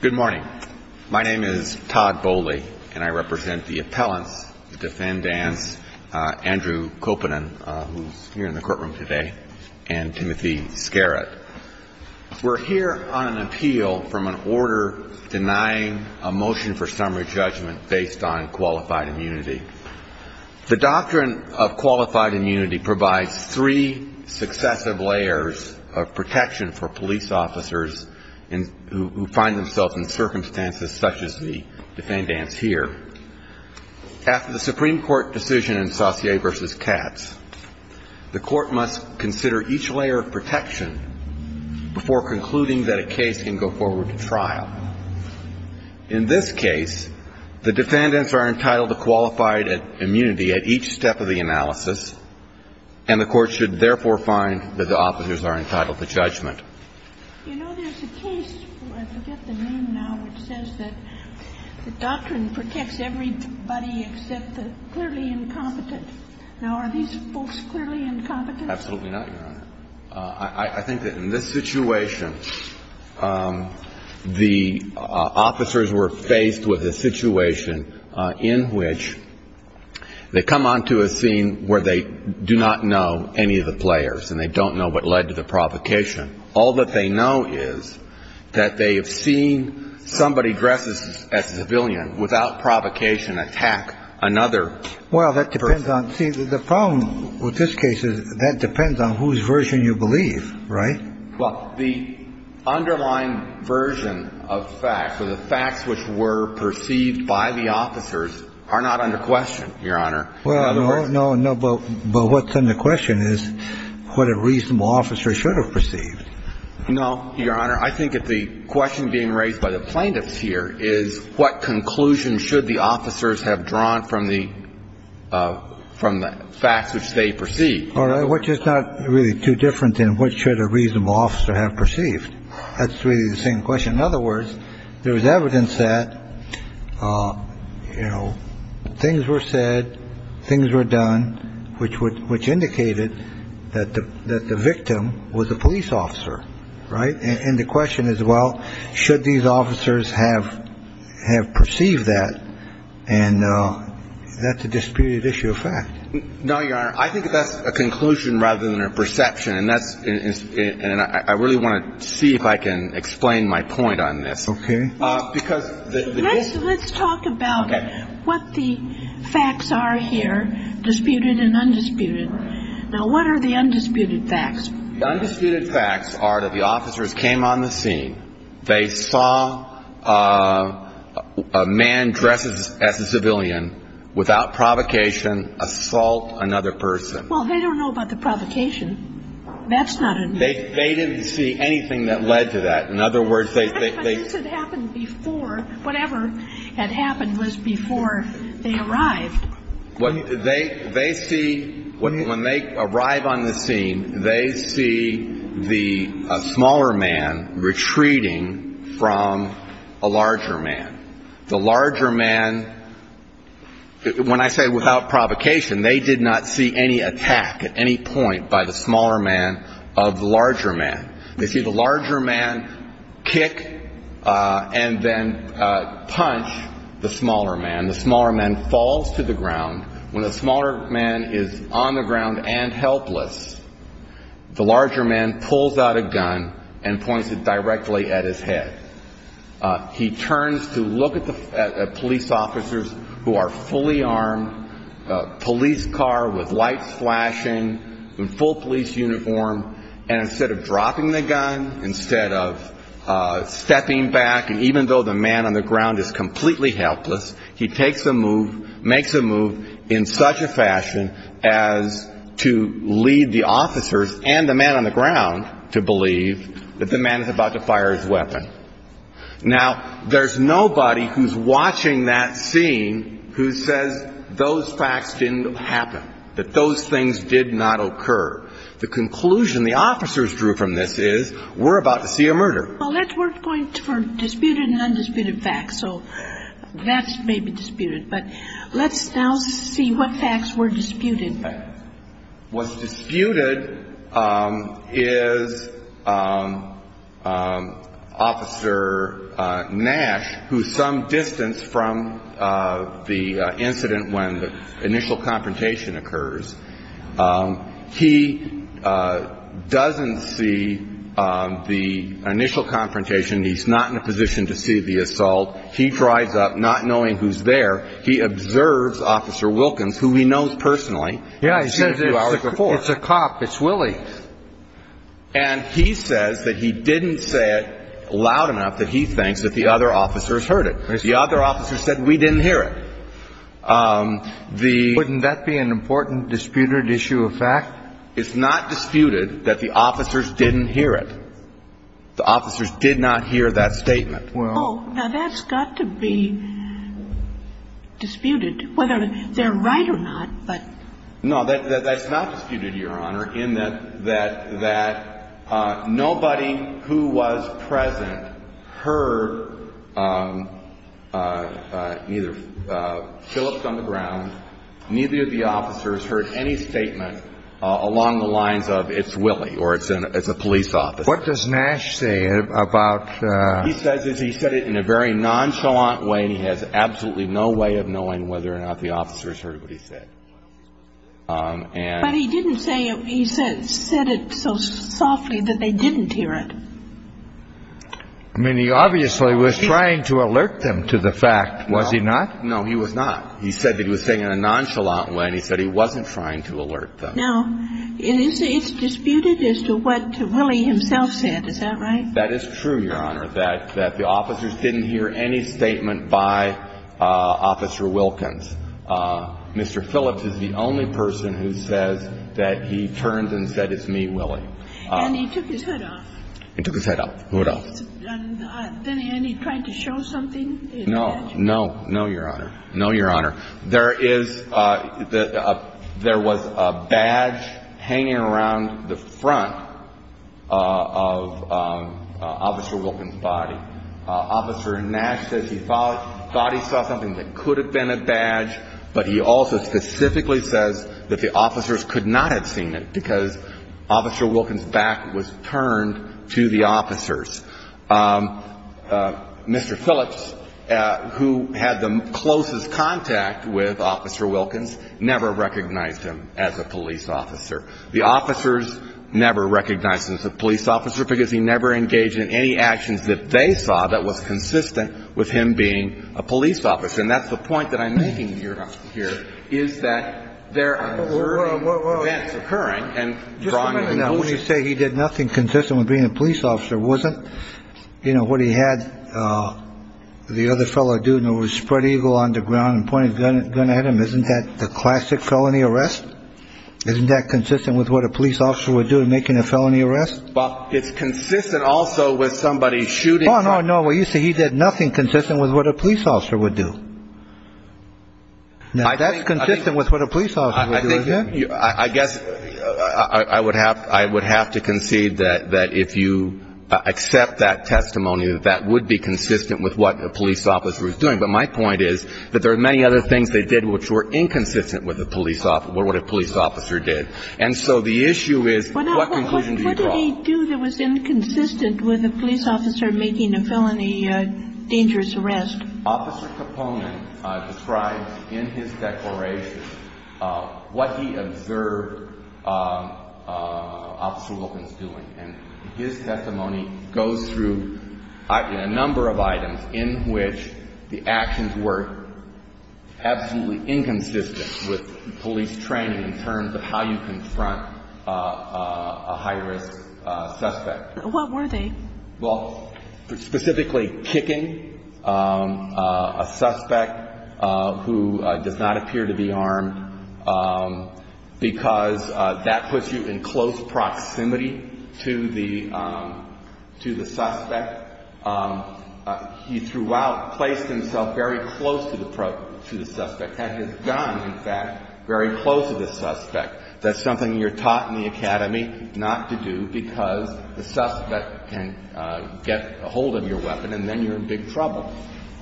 Good morning. My name is Todd Bowley, and I represent the appellants, the defendants, Andrew Kopanen, who's here in the courtroom today, and Timothy Scarrot. We're here on an appeal from an order denying a motion for summary judgment based on qualified immunity. The doctrine of qualified immunity provides three successive layers of protection for police officers who find themselves in circumstances such as the defendants here. After the Supreme Court decision in Saussure v. Katz, the court must consider each layer of protection before concluding that a case can go forward to trial. In this case, the defendants are entitled to qualified immunity at each step of the analysis, and the court should therefore find that the officers are entitled to judgment. You know, there's a case, I forget the name now, which says that the doctrine protects everybody except the clearly incompetent. Now, are these folks clearly incompetent? Absolutely not, Your Honor. I think that in this situation, the officers were faced with a situation in which they come onto a scene where they do not know any of the players and they don't know what led to the provocation. All that they know is that they have seen somebody dressed as a civilian without provocation attack another person. Now, in this case, the defense is that they have seen somebody dressed as a civilian without provocation attack another person. Now, in this case, the defense is that they have seen somebody dressed as a civilian without provocation attack another person. In other words, there was evidence that, you know, things were said, things were done, which would which indicated that the that the victim was a police officer. Right. And the question is, well, should these officers have have perceived that? I think that's a conclusion rather than a perception. And that's it. And I really want to see if I can explain my point on this. Okay. Because let's talk about what the facts are here, disputed and undisputed. Now, what are the undisputed facts? The undisputed facts are that the officers came on the scene. They saw a man dressed as a civilian without provocation assault another person. Well, they don't know about the provocation. That's not a. They didn't see anything that led to that. In other words, they. Happened before whatever had happened was before they arrived. They they see when they arrive on the scene, they see the smaller man retreating from a larger man. The larger man. When I say without provocation, they did not see any attack at any point by the smaller man of the larger man. They see the larger man kick and then punch the smaller man. The smaller man falls to the ground when a smaller man is on the ground and helpless. The larger man pulls out a gun and points it directly at his head. He turns to look at the police officers who are fully armed police car with light flashing and full police uniform. And instead of dropping the gun, instead of stepping back. And even though the man on the ground is completely helpless, he takes a move, makes a move in such a fashion as to lead the officers and the man on the ground to believe that the man is about to fire his weapon. Now, there's nobody who's watching that scene who says those facts didn't happen, that those things did not occur. The conclusion the officers drew from this is we're about to see a murder. Well, we're going for disputed and undisputed facts. So that's maybe disputed. But let's now see what facts were disputed. What's disputed is Officer Nash, who's some distance from the incident when the initial confrontation occurs. He doesn't see the initial confrontation. He's not in a position to see the assault. He drives up not knowing who's there. He observes Officer Wilkins, who he knows personally. Yeah, I said it was a cop. It's Willie. And he says that he didn't say it loud enough that he thinks that the other officers heard it. The other officers said we didn't hear it. Wouldn't that be an important disputed issue of fact? It's not disputed that the officers didn't hear it. The officers did not hear that statement. Now, that's got to be disputed, whether they're right or not. No, that's not disputed, Your Honor, in that nobody who was present heard neither Phillips on the ground, neither of the officers heard any statement along the lines of it's Willie or it's a police officer. What does Nash say about the ---- What he says is he said it in a very nonchalant way, and he has absolutely no way of knowing whether or not the officers heard what he said. But he didn't say he said it so softly that they didn't hear it. I mean, he obviously was trying to alert them to the fact. Was he not? No, he was not. He said that he was saying it in a nonchalant way, and he said he wasn't trying to alert them. Now, it's disputed as to what Willie himself said. Is that right? That is true, Your Honor, that the officers didn't hear any statement by Officer Wilkins. Mr. Phillips is the only person who says that he turned and said it's me, Willie. And he took his head off. He took his head off. What else? And he tried to show something. No. No. No, Your Honor. No, Your Honor. There was a badge hanging around the front of Officer Wilkins' body. Officer Nash says he thought he saw something that could have been a badge, but he also specifically says that the officers could not have seen it because Officer Wilkins' back was turned to the officers. Mr. Phillips, who had the closest contact with Officer Wilkins, never recognized him as a police officer. The officers never recognized him as a police officer because he never engaged in any actions that they saw that was consistent with him being a police officer. And that's the point that I'm making here, Your Honor, here, is that there are occurring events occurring. Now, when you say he did nothing consistent with being a police officer, wasn't, you know, what he had the other fellow do when he was spread eagle on the ground and pointed a gun at him, isn't that the classic felony arrest? Isn't that consistent with what a police officer would do in making a felony arrest? Well, it's consistent also with somebody shooting. Oh, no, no. Well, you say he did nothing consistent with what a police officer would do. Now, that's consistent with what a police officer would do, isn't it? I guess I would have to concede that if you accept that testimony, that that would be consistent with what a police officer is doing. But my point is that there are many other things they did which were inconsistent with what a police officer did. And so the issue is what conclusion do you draw? What did he do that was inconsistent with a police officer making a felony dangerous arrest? Officer Capone describes in his declaration what he observed Officer Wilkins doing. And his testimony goes through a number of items in which the actions were absolutely inconsistent with police training in terms of how you confront a high-risk suspect. What were they? Well, specifically kicking a suspect who does not appear to be armed, because that puts you in close proximity to the suspect. He throughout placed himself very close to the suspect, had his gun, in fact, very close to the suspect. That's something you're taught in the academy not to do because the suspect can get a hold of your weapon and then you're in big trouble.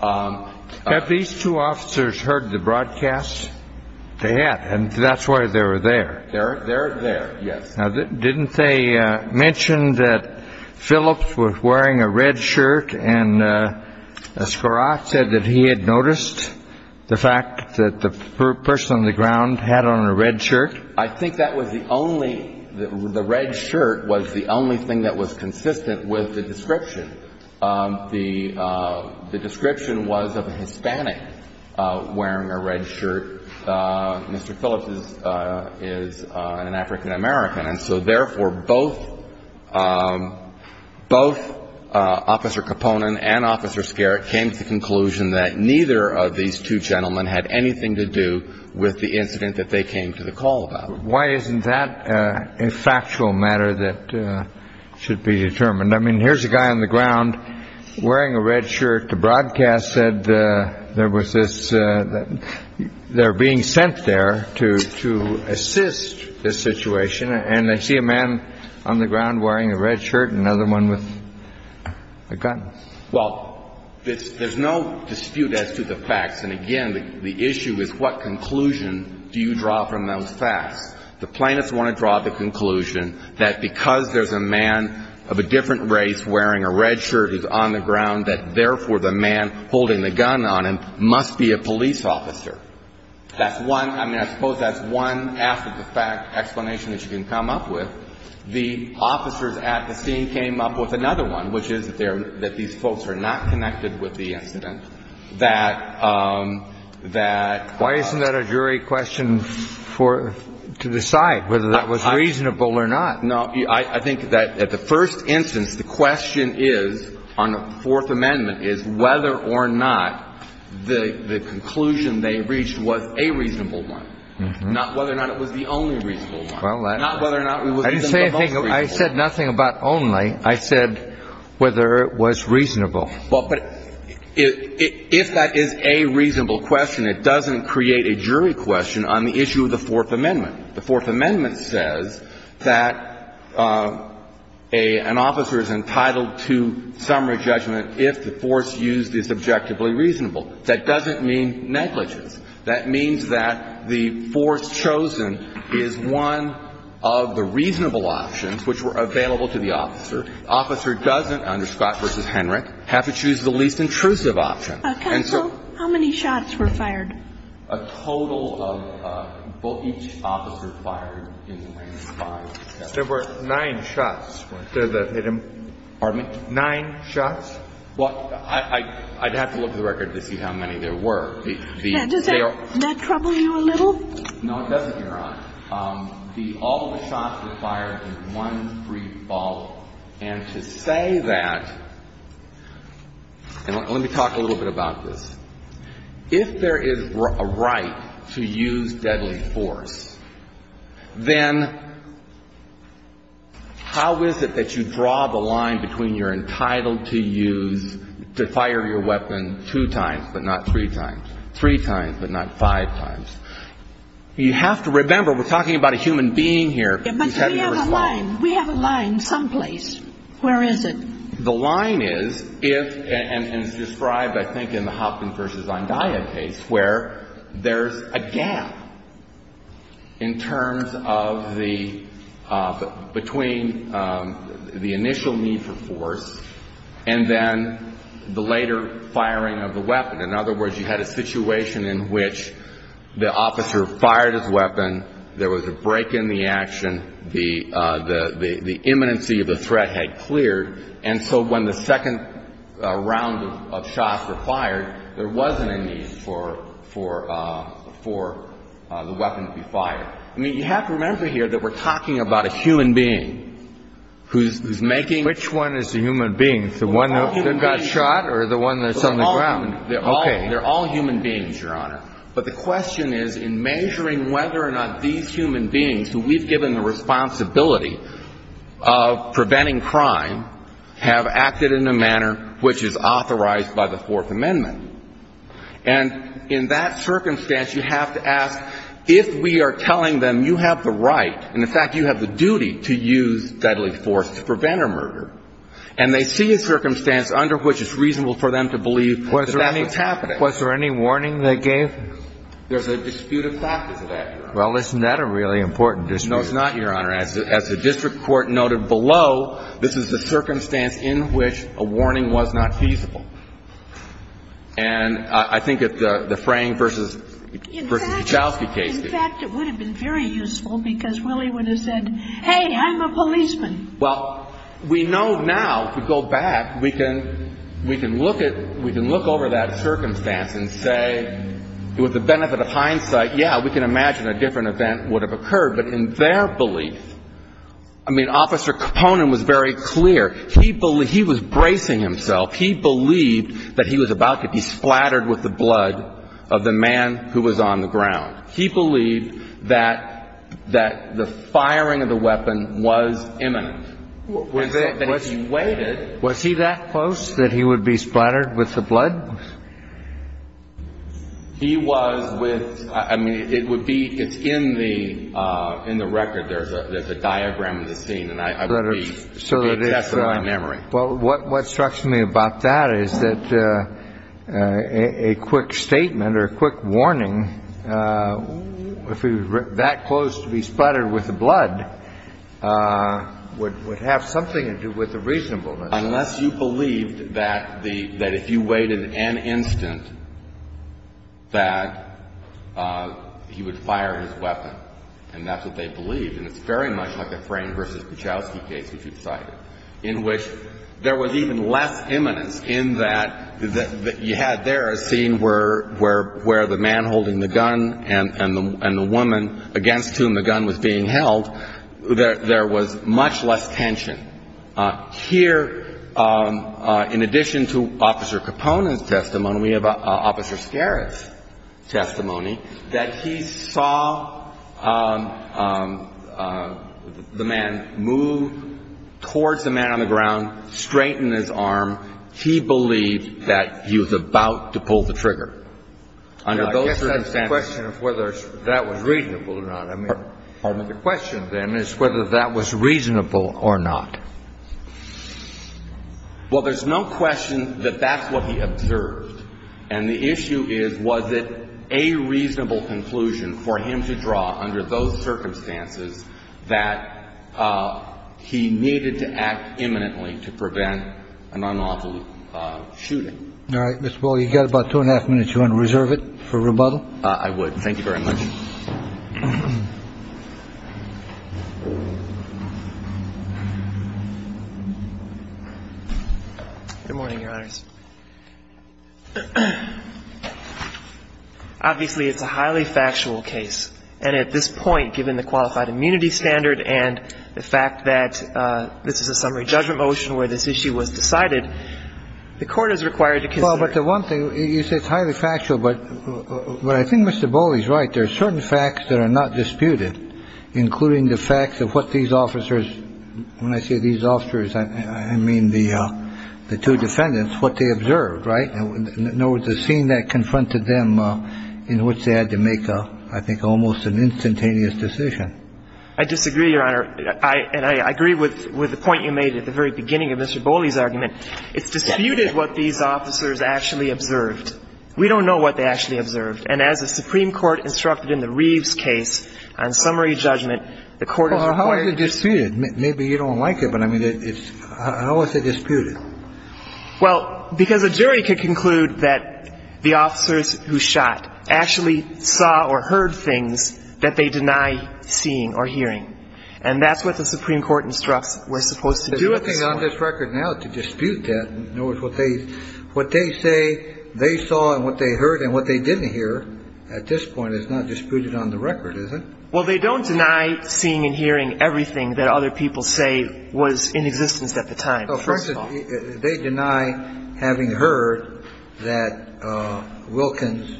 Have these two officers heard the broadcast? They had. And that's why they were there. They're there, yes. Now, didn't they mention that Phillips was wearing a red shirt and Escorat said that he had noticed the fact that the person on the ground had on a red shirt? I think that was the only – the red shirt was the only thing that was consistent with the description. The description was of a Hispanic wearing a red shirt. Mr. Phillips is an African-American. And so, therefore, both – both Officer Capone and Officer Escorat came to the conclusion that neither of these two gentlemen had anything to do with the incident that they came to the call about. Why isn't that a factual matter that should be determined? I mean, here's a guy on the ground wearing a red shirt. The broadcast said there was this – they're being sent there to assist this situation. And I see a man on the ground wearing a red shirt and another one with a gun. Well, there's no dispute as to the facts. And, again, the issue is what conclusion do you draw from those facts? The plaintiffs want to draw the conclusion that because there's a man of a different race wearing a red shirt who's on the ground, that, therefore, the man holding the gun on him must be a police officer. That's one – I mean, I suppose that's one after-the-fact explanation that you can come up with. The officers at the scene came up with another one, which is that they're – that these folks are not connected with the incident. And I think that's the reason why, as a jury, we're going to decide that that – that – Why isn't that a jury question for – to decide whether that was reasonable or not? No. I think that at the first instance, the question is, on the Fourth Amendment, is whether or not the conclusion they reached was a reasonable one, not whether or not it was the only reasonable one. Well, that – Not whether or not it was even the most reasonable. I didn't say a thing. I said nothing about only. I said whether it was reasonable. Well, but if that is a reasonable question, it doesn't create a jury question on the issue of the Fourth Amendment. The Fourth Amendment says that an officer is entitled to summary judgment if the force used is objectively reasonable. That doesn't mean negligence. That means that the force chosen is one of the reasonable options which were available to the officer. The officer doesn't, under Scott v. Henrich, have to choose the least intrusive option. Counsel, how many shots were fired? A total of – well, each officer fired in range of five shots. There were nine shots. Pardon me? Nine shots? Well, I'd have to look at the record to see how many there were. Yeah. Does that trouble you a little? No, it doesn't, Your Honor. All the shots were fired in one free fall. And to say that – and let me talk a little bit about this. If there is a right to use deadly force, then how is it that you draw the line between you're entitled to use – to fire your weapon two times, but not three times? Three times, but not five times? You have to remember, we're talking about a human being here. But we have a line. We have a line someplace. Where is it? The line is if – and it's described, I think, in the Hopkins v. Zondaya case, where there's a gap in terms of the – between the initial need for force and then the later firing of the weapon. In other words, you had a situation in which the officer fired his weapon. There was a break in the action. The imminency of the threat had cleared. And so when the second round of shots were fired, there wasn't a need for the weapon to be fired. I mean, you have to remember here that we're talking about a human being who's making – Which one is the human being? The one that got shot or the one that's on the ground? Okay. They're all human beings, Your Honor. But the question is in measuring whether or not these human beings who we've given the responsibility of preventing crime have acted in a manner which is authorized by the Fourth Amendment. And in that circumstance, you have to ask if we are telling them you have the right, and in fact you have the duty to use deadly force to prevent a murder, and they see a circumstance under which it's reasonable for them to believe that that's what's happening. Was there any warning they gave? There's a dispute of fact as a matter of fact. Well, isn't that a really important dispute? No, it's not, Your Honor. As the district court noted below, this is the circumstance in which a warning was not feasible. And I think that the Frang v. Kachowski case did. In fact, it would have been very useful because Willie would have said, hey, I'm a policeman. Well, we know now if we go back, we can look over that circumstance and say with the benefit of hindsight, yeah, we can imagine a different event would have occurred. But in their belief, I mean, Officer Komponen was very clear. He was bracing himself. He believed that he was about to be splattered with the blood of the man who was on the ground. He believed that the firing of the weapon was imminent. And so that he waited. Was he that close that he would be splattered with the blood? He was with – I mean, it would be – it's in the record. There's a diagram of the scene. And I would be successful in memory. Well, what strikes me about that is that a quick statement or a quick warning, if he was that close to be splattered with the blood, would have something to do with the reasonableness. Unless you believed that if you waited an instant that he would fire his weapon. And that's what they believed. And it's very much like a Frane versus Kuchowski case, which you cited, in which there was even less imminence in that you had there a scene where the man holding the gun and the woman against whom the gun was being held, there was much less tension. Here, in addition to Officer Capone's testimony, we have Officer Scariff's testimony, that he saw the man move towards the man on the ground, straighten his arm. He believed that he was about to pull the trigger. I guess that's the question of whether that was reasonable or not. Pardon me? The question of them is whether that was reasonable or not. Well, there's no question that that's what he observed. And the issue is, was it a reasonable conclusion for him to draw under those circumstances that he needed to act imminently to prevent an unlawful shooting? All right. Mr. Paul, you've got about two and a half minutes. Do you want to reserve it for rebuttal? I would. Thank you very much. Good morning, Your Honors. Obviously, it's a highly factual case. And at this point, given the qualified immunity standard and the fact that this is a summary judgment motion where this issue was decided, the Court is required to consider the one thing. You say it's highly factual. But I think Mr. Boley is right. There are certain facts that are not disputed, including the fact of what these officers when I say these officers, I mean the two defendants, what they observed. Right? In other words, the scene that confronted them in which they had to make, I think, almost an instantaneous decision. I disagree, Your Honor. And I agree with the point you made at the very beginning of Mr. Boley's argument. It's disputed what these officers actually observed. We don't know what they actually observed. And as the Supreme Court instructed in the Reeves case on summary judgment, the Court is required to Well, how is it disputed? Maybe you don't like it, but I mean, how is it disputed? Well, because a jury could conclude that the officers who shot actually saw or heard things that they deny seeing or hearing. And that's what the Supreme Court instructs we're supposed to do at this point. Well, they don't deny seeing and hearing everything that other people say was in existence at the time. First of all. They deny having heard that Wilkins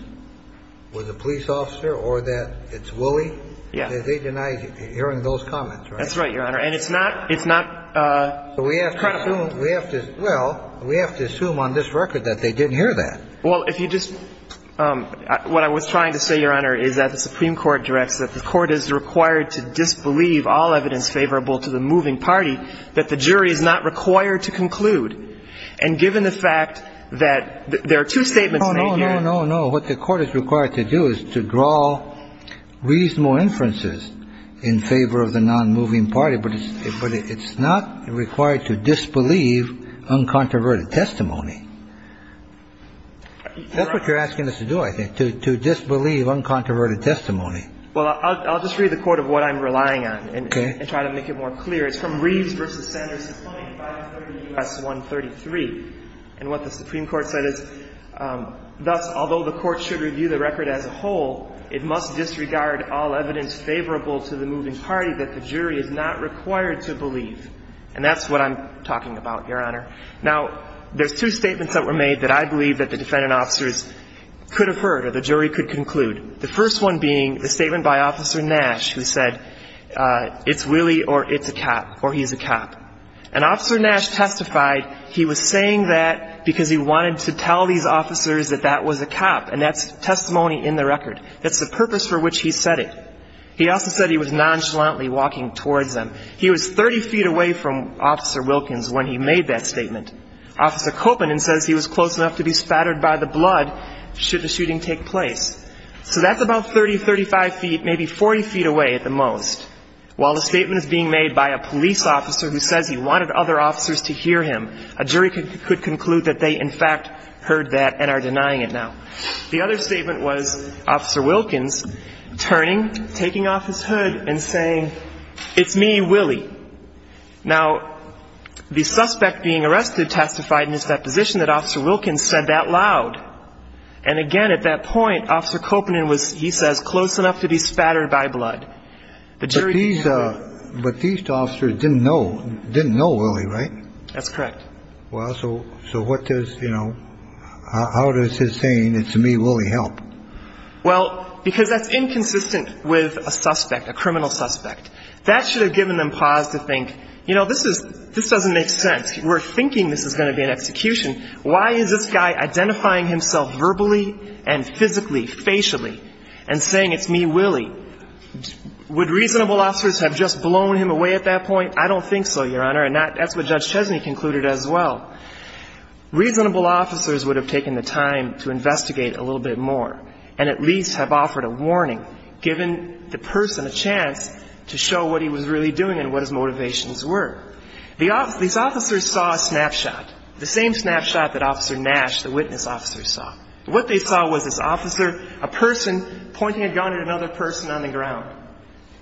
was a police officer or that it's Woolley. Yeah. They deny hearing those comments, right? That's right, Your Honor. And it's not, it's not credible. So we have to assume it's true. Well, we have to assume on this record that they didn't hear that. Well, if you just what I was trying to say, Your Honor, is that the Supreme Court directs that the Court is required to disbelieve all evidence favorable to the moving party that the jury is not required to conclude. And given the fact that there are two statements. No, no, no, no. Well, what the Court is required to do is to draw reasonable inferences in favor of the non-moving party. But it's not required to disbelieve uncontroverted testimony. That's what you're asking us to do, I think, to disbelieve uncontroverted testimony. Well, I'll just read the Court of what I'm relying on and try to make it more clear. It's from Reeves v. Sanders, 620 and 530 U.S. 133. And what the Supreme Court said is, thus, although the Court should review the record as a whole, it must disregard all evidence favorable to the moving party that the jury is not required to believe. And that's what I'm talking about, Your Honor. Now, there's two statements that were made that I believe that the defendant officers could have heard or the jury could conclude. The first one being the statement by Officer Nash who said, it's Willie or it's a cop or he's a cop. And Officer Nash testified he was saying that because he wanted to tell these officers that that was a cop, and that's testimony in the record. That's the purpose for which he said it. He also said he was nonchalantly walking towards them. He was 30 feet away from Officer Wilkins when he made that statement. Officer Copeland says he was close enough to be spattered by the blood should the shooting take place. So that's about 30, 35 feet, maybe 40 feet away at the most. While the statement is being made by a police officer who says he wanted other officers to hear him, a jury could conclude that they, in fact, heard that and are denying it now. The other statement was Officer Wilkins turning, taking off his hood and saying, it's me, Willie. Now, the suspect being arrested testified in his deposition that Officer Wilkins said that loud. And again, at that point, Officer Copeland was, he says, close enough to be spattered by blood. But these, but these officers didn't know, didn't know Willie, right? That's correct. Well, so, so what does, you know, how does his saying, it's me, Willie, help? Well, because that's inconsistent with a suspect, a criminal suspect. That should have given them pause to think, you know, this is, this doesn't make sense. We're thinking this is going to be an execution. Why is this guy identifying himself verbally and physically, facially, and saying, it's me, Willie? Would reasonable officers have just blown him away at that point? I don't think so, Your Honor. And that's what Judge Chesney concluded as well. Reasonable officers would have taken the time to investigate a little bit more and at least have offered a warning, given the person a chance to show what he was really doing and what his motivations were. These officers saw a snapshot, the same snapshot that Officer Nash, the witness officer, saw. What they saw was this officer, a person pointing a gun at another person on the ground.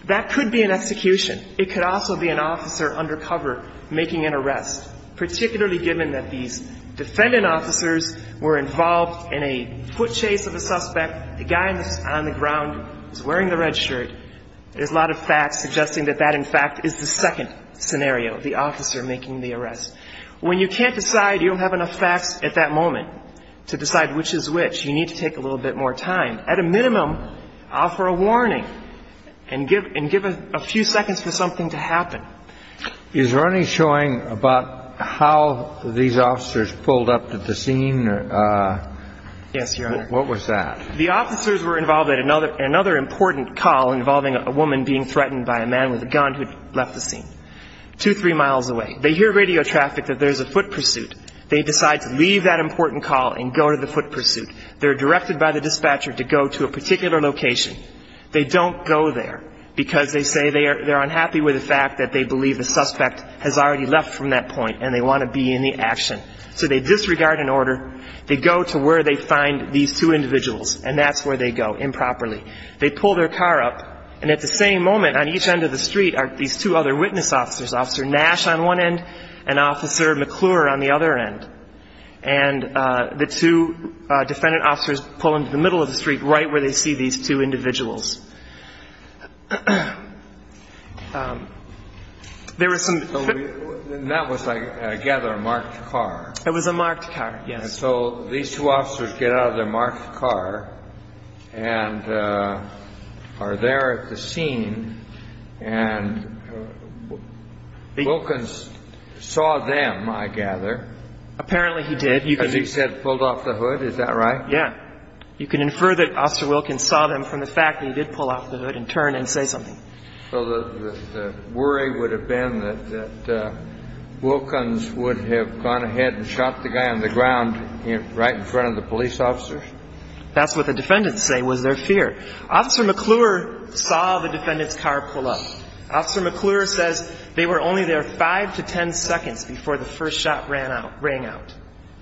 That could be an execution. It could also be an officer undercover making an arrest, particularly given that these defendant officers were involved in a foot chase of a suspect. The guy on the ground was wearing the red shirt. There's a lot of facts suggesting that that, in fact, is the second scenario, the officer making the arrest. When you can't decide, you don't have enough facts at that moment to decide which is which, you need to take a little bit more time. At a minimum, offer a warning and give a few seconds for something to happen. Is there any showing about how these officers pulled up at the scene? Yes, Your Honor. What was that? The officers were involved in another important call involving a woman being threatened by a man with a gun who'd left the scene, two, three miles away. They hear radio traffic that there's a foot pursuit. They decide to leave that important call and go to the foot pursuit. They're directed by the dispatcher to go to a particular location. They don't go there because they say they're unhappy with the fact that they believe the suspect has already left from that point and they want to be in the action. So they disregard an order. They go to where they find these two individuals, and that's where they go improperly. They pull their car up, and at the same moment on each end of the street are these two other witness officers, Officer Nash on one end and Officer McClure on the other end. And the two defendant officers pull into the middle of the street right where they see these two individuals. There was some... And that was, I gather, a marked car. It was a marked car, yes. And so these two officers get out of their marked car and are there at the scene, and Wilkins saw them, I gather. Apparently he did. Because he said pulled off the hood, is that right? Yeah. You can infer that Officer Wilkins saw them from the fact that he did pull off the hood and turn and say something. So the worry would have been that Wilkins would have gone ahead and shot the guy on the ground right in front of the police officers? That's what the defendants say was their fear. Officer McClure saw the defendant's car pull up. Officer McClure says they were only there 5 to 10 seconds before the first shot ran out, rang out.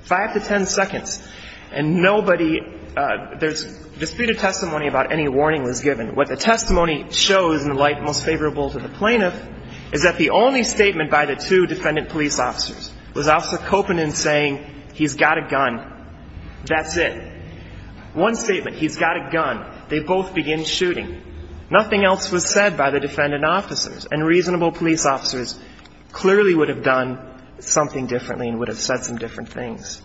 5 to 10 seconds. And nobody... There's disputed testimony about any warning was given. What the testimony shows in the light most favorable to the plaintiff is that the only statement by the two defendant police officers was Officer Kopanen saying, he's got a gun, that's it. One statement, he's got a gun. They both begin shooting. Nothing else was said by the defendant officers. And reasonable police officers clearly would have done something differently and would have said some different things.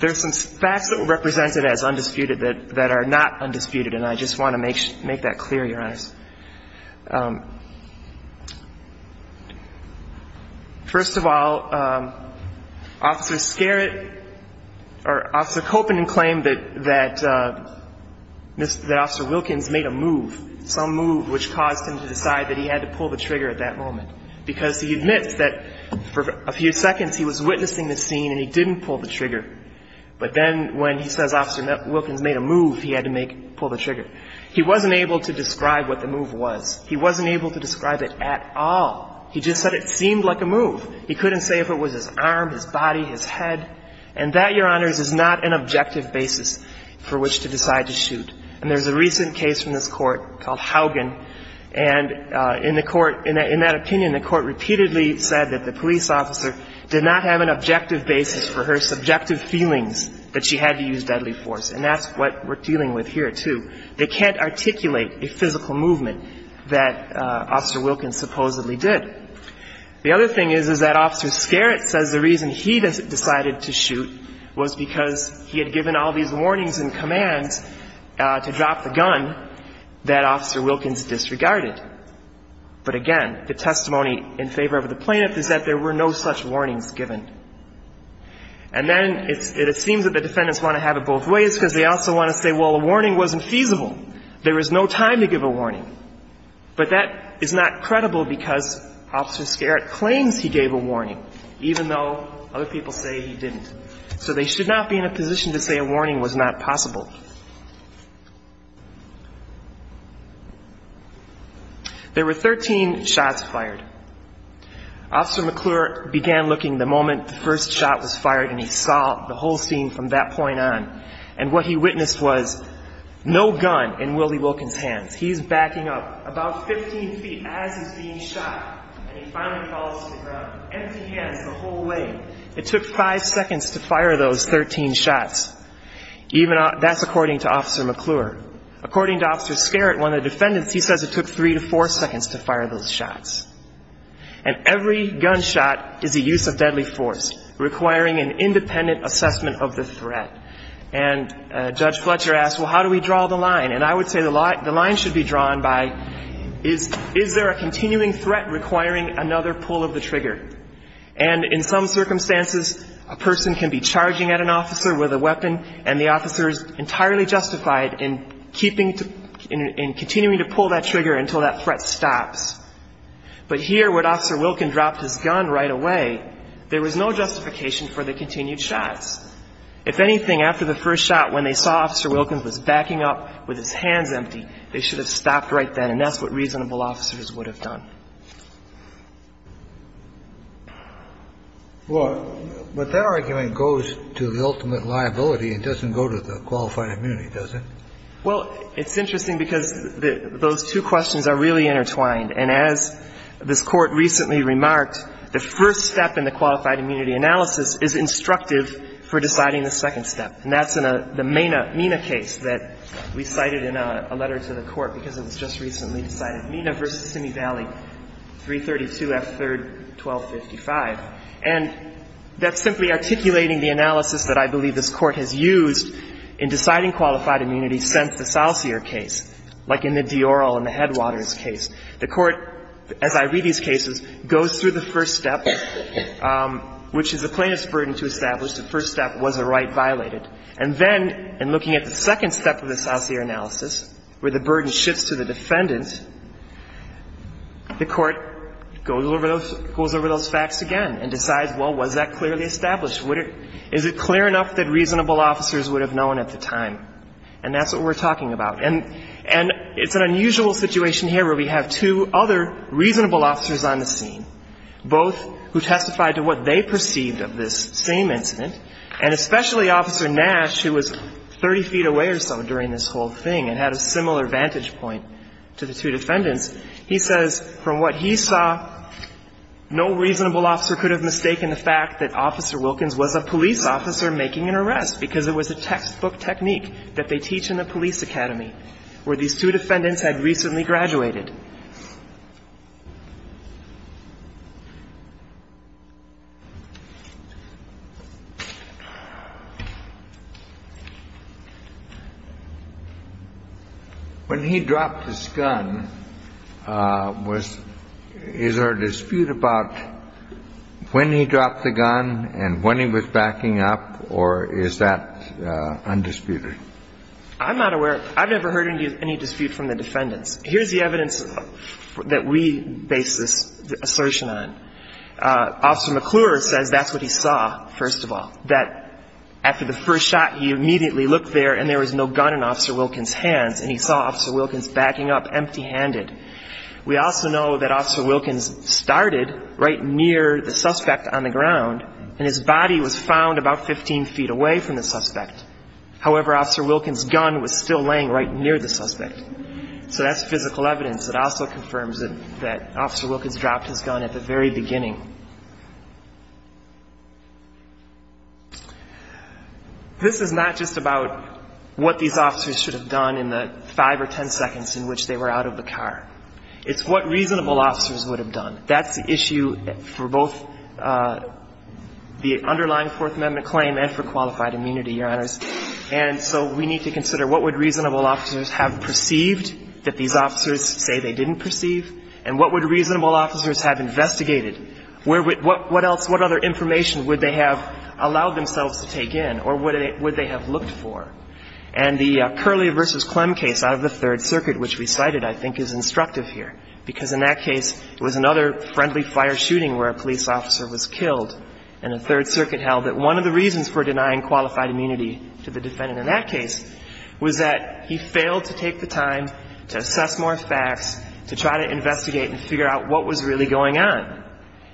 There's some facts that were represented as undisputed that are not undisputed, and I just want to make that clear, Your Honor. First of all, Officer Kopanen claimed that Officer Wilkins made a move, some move, which caused him to decide that he had to pull the trigger at that moment. Because he admits that for a few seconds he was witnessing the scene and he didn't pull the trigger. But then when he says Officer Wilkins made a move, he had to pull the trigger. He wasn't able to describe what the move was. He wasn't able to describe it at all. He just said it seemed like a move. He couldn't say if it was his arm, his body, his head. And that, Your Honors, is not an objective basis for which to decide to shoot. And there's a recent case from this Court called Haugen. And in the Court, in that opinion, the Court repeatedly said that the police officer did not have an objective basis for her subjective feelings that she had to use deadly force. And that's what we're dealing with here, too. They can't articulate a physical movement that Officer Wilkins supposedly did. The other thing is, is that Officer Skerritt says the reason he decided to shoot was because he had given all these warnings and commands to drop the gun that Officer Wilkins disregarded. But, again, the testimony in favor of the plaintiff is that there were no such warnings given. And then it seems that the defendants want to have it both ways because they also want to say, well, a warning wasn't feasible. There was no time to give a warning. But that is not credible because Officer Skerritt claims he gave a warning, even though other people say he didn't. So they should not be in a position to say a warning was not possible. There were 13 shots fired. Officer McClure began looking the moment the first shot was fired, and he saw the whole scene from that point on. And what he witnessed was no gun in Willie Wilkins' hands. He's backing up about 15 feet as he's being shot. And he finally falls to the ground, empty hands the whole way. It took five seconds to fire those 13 shots. That's according to Officer McClure. According to Officer Skerritt, one of the defendants, he says it took three to four seconds to fire those shots. And every gunshot is a use of deadly force, requiring an independent assessment of the threat. And Judge Fletcher asked, well, how do we draw the line? And I would say the line should be drawn by, is there a continuing threat requiring another pull of the trigger? And in some circumstances, a person can be charging at an officer with a weapon, and the officer is entirely justified in continuing to pull that trigger until that threat stops. But here, when Officer Wilkins dropped his gun right away, there was no justification for the continued shots. If anything, after the first shot, when they saw Officer Wilkins was backing up with his hands empty, they should have stopped right then. And that's what reasonable officers would have done. Kennedy. Well, but that argument goes to the ultimate liability. It doesn't go to the qualified immunity, does it? Well, it's interesting because those two questions are really intertwined. And as this Court recently remarked, the first step in the qualified immunity analysis is instructive for deciding the second step. And that's in the Mena case that we cited in a letter to the Court because it was just recently cited, Mena v. Simi Valley, 332 F. 3rd, 1255. And that's simply articulating the analysis that I believe this Court has used in deciding qualified immunity since the Salsier case, like in the Dioral and the Headwaters case. The Court, as I read these cases, goes through the first step, which is the plaintiff's right violated. And then in looking at the second step of the Salsier analysis, where the burden shifts to the defendant, the Court goes over those facts again and decides, well, was that clearly established? Is it clear enough that reasonable officers would have known at the time? And that's what we're talking about. And it's an unusual situation here where we have two other reasonable officers on the scene, both who testified to what they perceived of this same incident, and especially Officer Nash, who was 30 feet away or so during this whole thing and had a similar vantage point to the two defendants. He says from what he saw, no reasonable officer could have mistaken the fact that Officer Wilkins was a police officer making an arrest because it was a textbook technique that they teach in the police academy where these two defendants had recently graduated. Officer Nash, who was 30 feet away or so during this whole thing and had a similar vantage point to the two defendants. When he dropped his gun, was there a dispute about when he dropped the gun and when he was backing up, or is that undisputed? I'm not aware. I've never heard any dispute from the defendants. Here's the evidence that we base this assertion on. Officer McClure says that's what he saw, first of all, that after the first shot, he immediately looked there and there was no gun in Officer Wilkins' hands and he saw Officer Wilkins backing up empty-handed. We also know that Officer Wilkins started right near the suspect on the ground and his body was found about 15 feet away from the suspect. However, Officer Wilkins' gun was still laying right near the suspect. So that's physical evidence that also confirms that Officer Wilkins dropped his gun at the very beginning. This is not just about what these officers should have done in the five or ten seconds in which they were out of the car. It's what reasonable officers would have done. That's the issue for both the underlying Fourth Amendment claim and for qualified immunity, Your Honors. And so we need to consider what would reasonable officers have perceived that these officers say they didn't perceive, and what would reasonable officers have investigated? What else, what other information would they have allowed themselves to take in or would they have looked for? And the Curley v. Clem case out of the Third Circuit, which we cited, I think, is instructive here, because in that case, it was another friendly fire shooting where a police officer was killed, and the Third Circuit held that one of the reasons for denying qualified immunity to the defendant in that case was that he failed to take the time to assess more facts, to try to investigate and figure out what was really going on.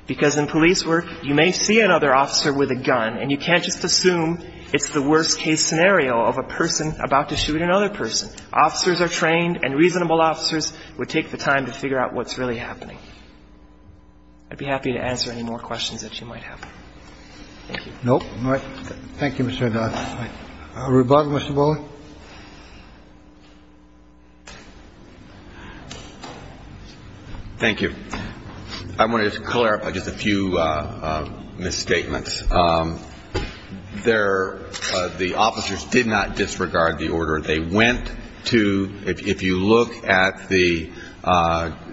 Because in police work, you may see another officer with a gun, and you can't just assume it's the worst-case scenario of a person about to shoot another person. Officers are trained, and reasonable officers would take the time to figure out what's really happening. I'd be happy to answer any more questions that you might have. Thank you. No? All right. Thank you, Mr. Dodd. Rubato, Mr. Bowley. Thank you. I wanted to clarify just a few misstatements. There the officers did not disregard the order. They went to, if you look at the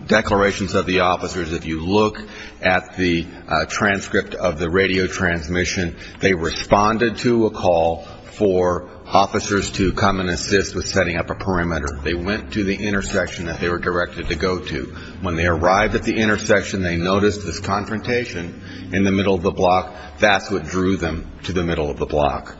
declarations of the officers, if you look at the transcript of the radio transmission, they responded to a call for officers to come and assist with setting up a perimeter. They went to the intersection that they were directed to go to. When they arrived at the intersection, they noticed this confrontation in the middle of the block. That's what drew them to the middle of the block.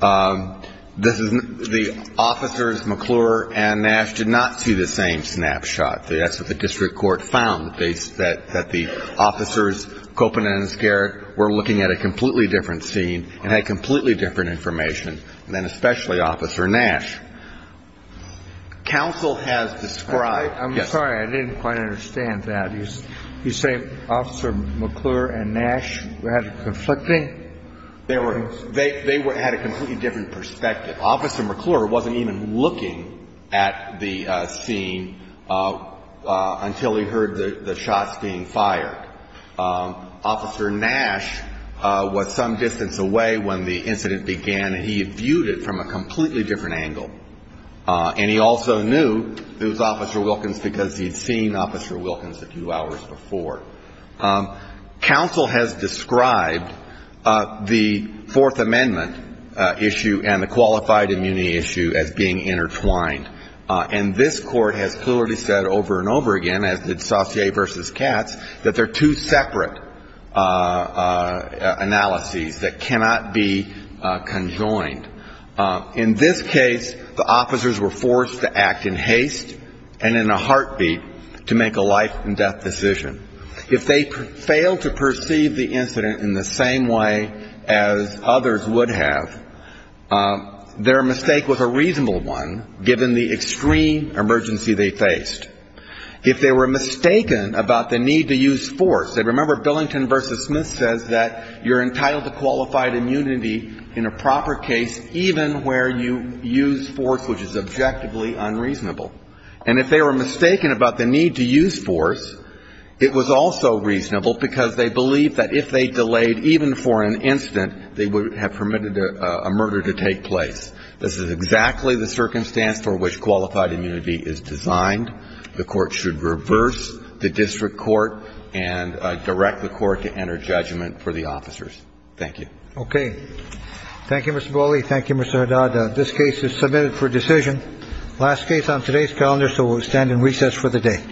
The officers, McClure and Nash, did not see the same snapshot. That's what the district court found, that the officers, Coppola and Skarrett, were looking at a completely different scene and had completely different information, and then especially Officer Nash. Counsel has described – I'm sorry. I didn't quite understand that. You say Officer McClure and Nash had a conflicting – They had a completely different perspective. Officer McClure wasn't even looking at the scene until he heard the shots being fired. Officer Nash was some distance away when the incident began, and he viewed it from a completely different angle. And he also knew it was Officer Wilkins because he had seen Officer Wilkins a few hours before. Counsel has described the Fourth Amendment issue and the qualified immunity issue as being intertwined. And this court has clearly said over and over again, as did Saucier v. Katz, that they're two separate analyses that cannot be conjoined. In this case, the officers were forced to act in haste and in a heartbeat to make a life-and-death decision. If they failed to perceive the incident in the same way as others would have, their mistake was a reasonable one, given the extreme emergency they faced. If they were mistaken about the need to use force – remember, Billington v. Smith says that you're entitled to qualified immunity in a proper case, even where you use force which is objectively unreasonable. And if they were mistaken about the need to use force, it was also reasonable because they believed that if they delayed even for an instant, they would have permitted a murder to take place. This is exactly the circumstance for which qualified immunity is designed. The court should reverse the district court and direct the court to enter judgment for the officers. Thank you. Okay. Thank you, Mr. Boley. Thank you, Mr. Haddad. This case is submitted for decision. Last case on today's calendar, so we'll stand in recess for the day. Thank you.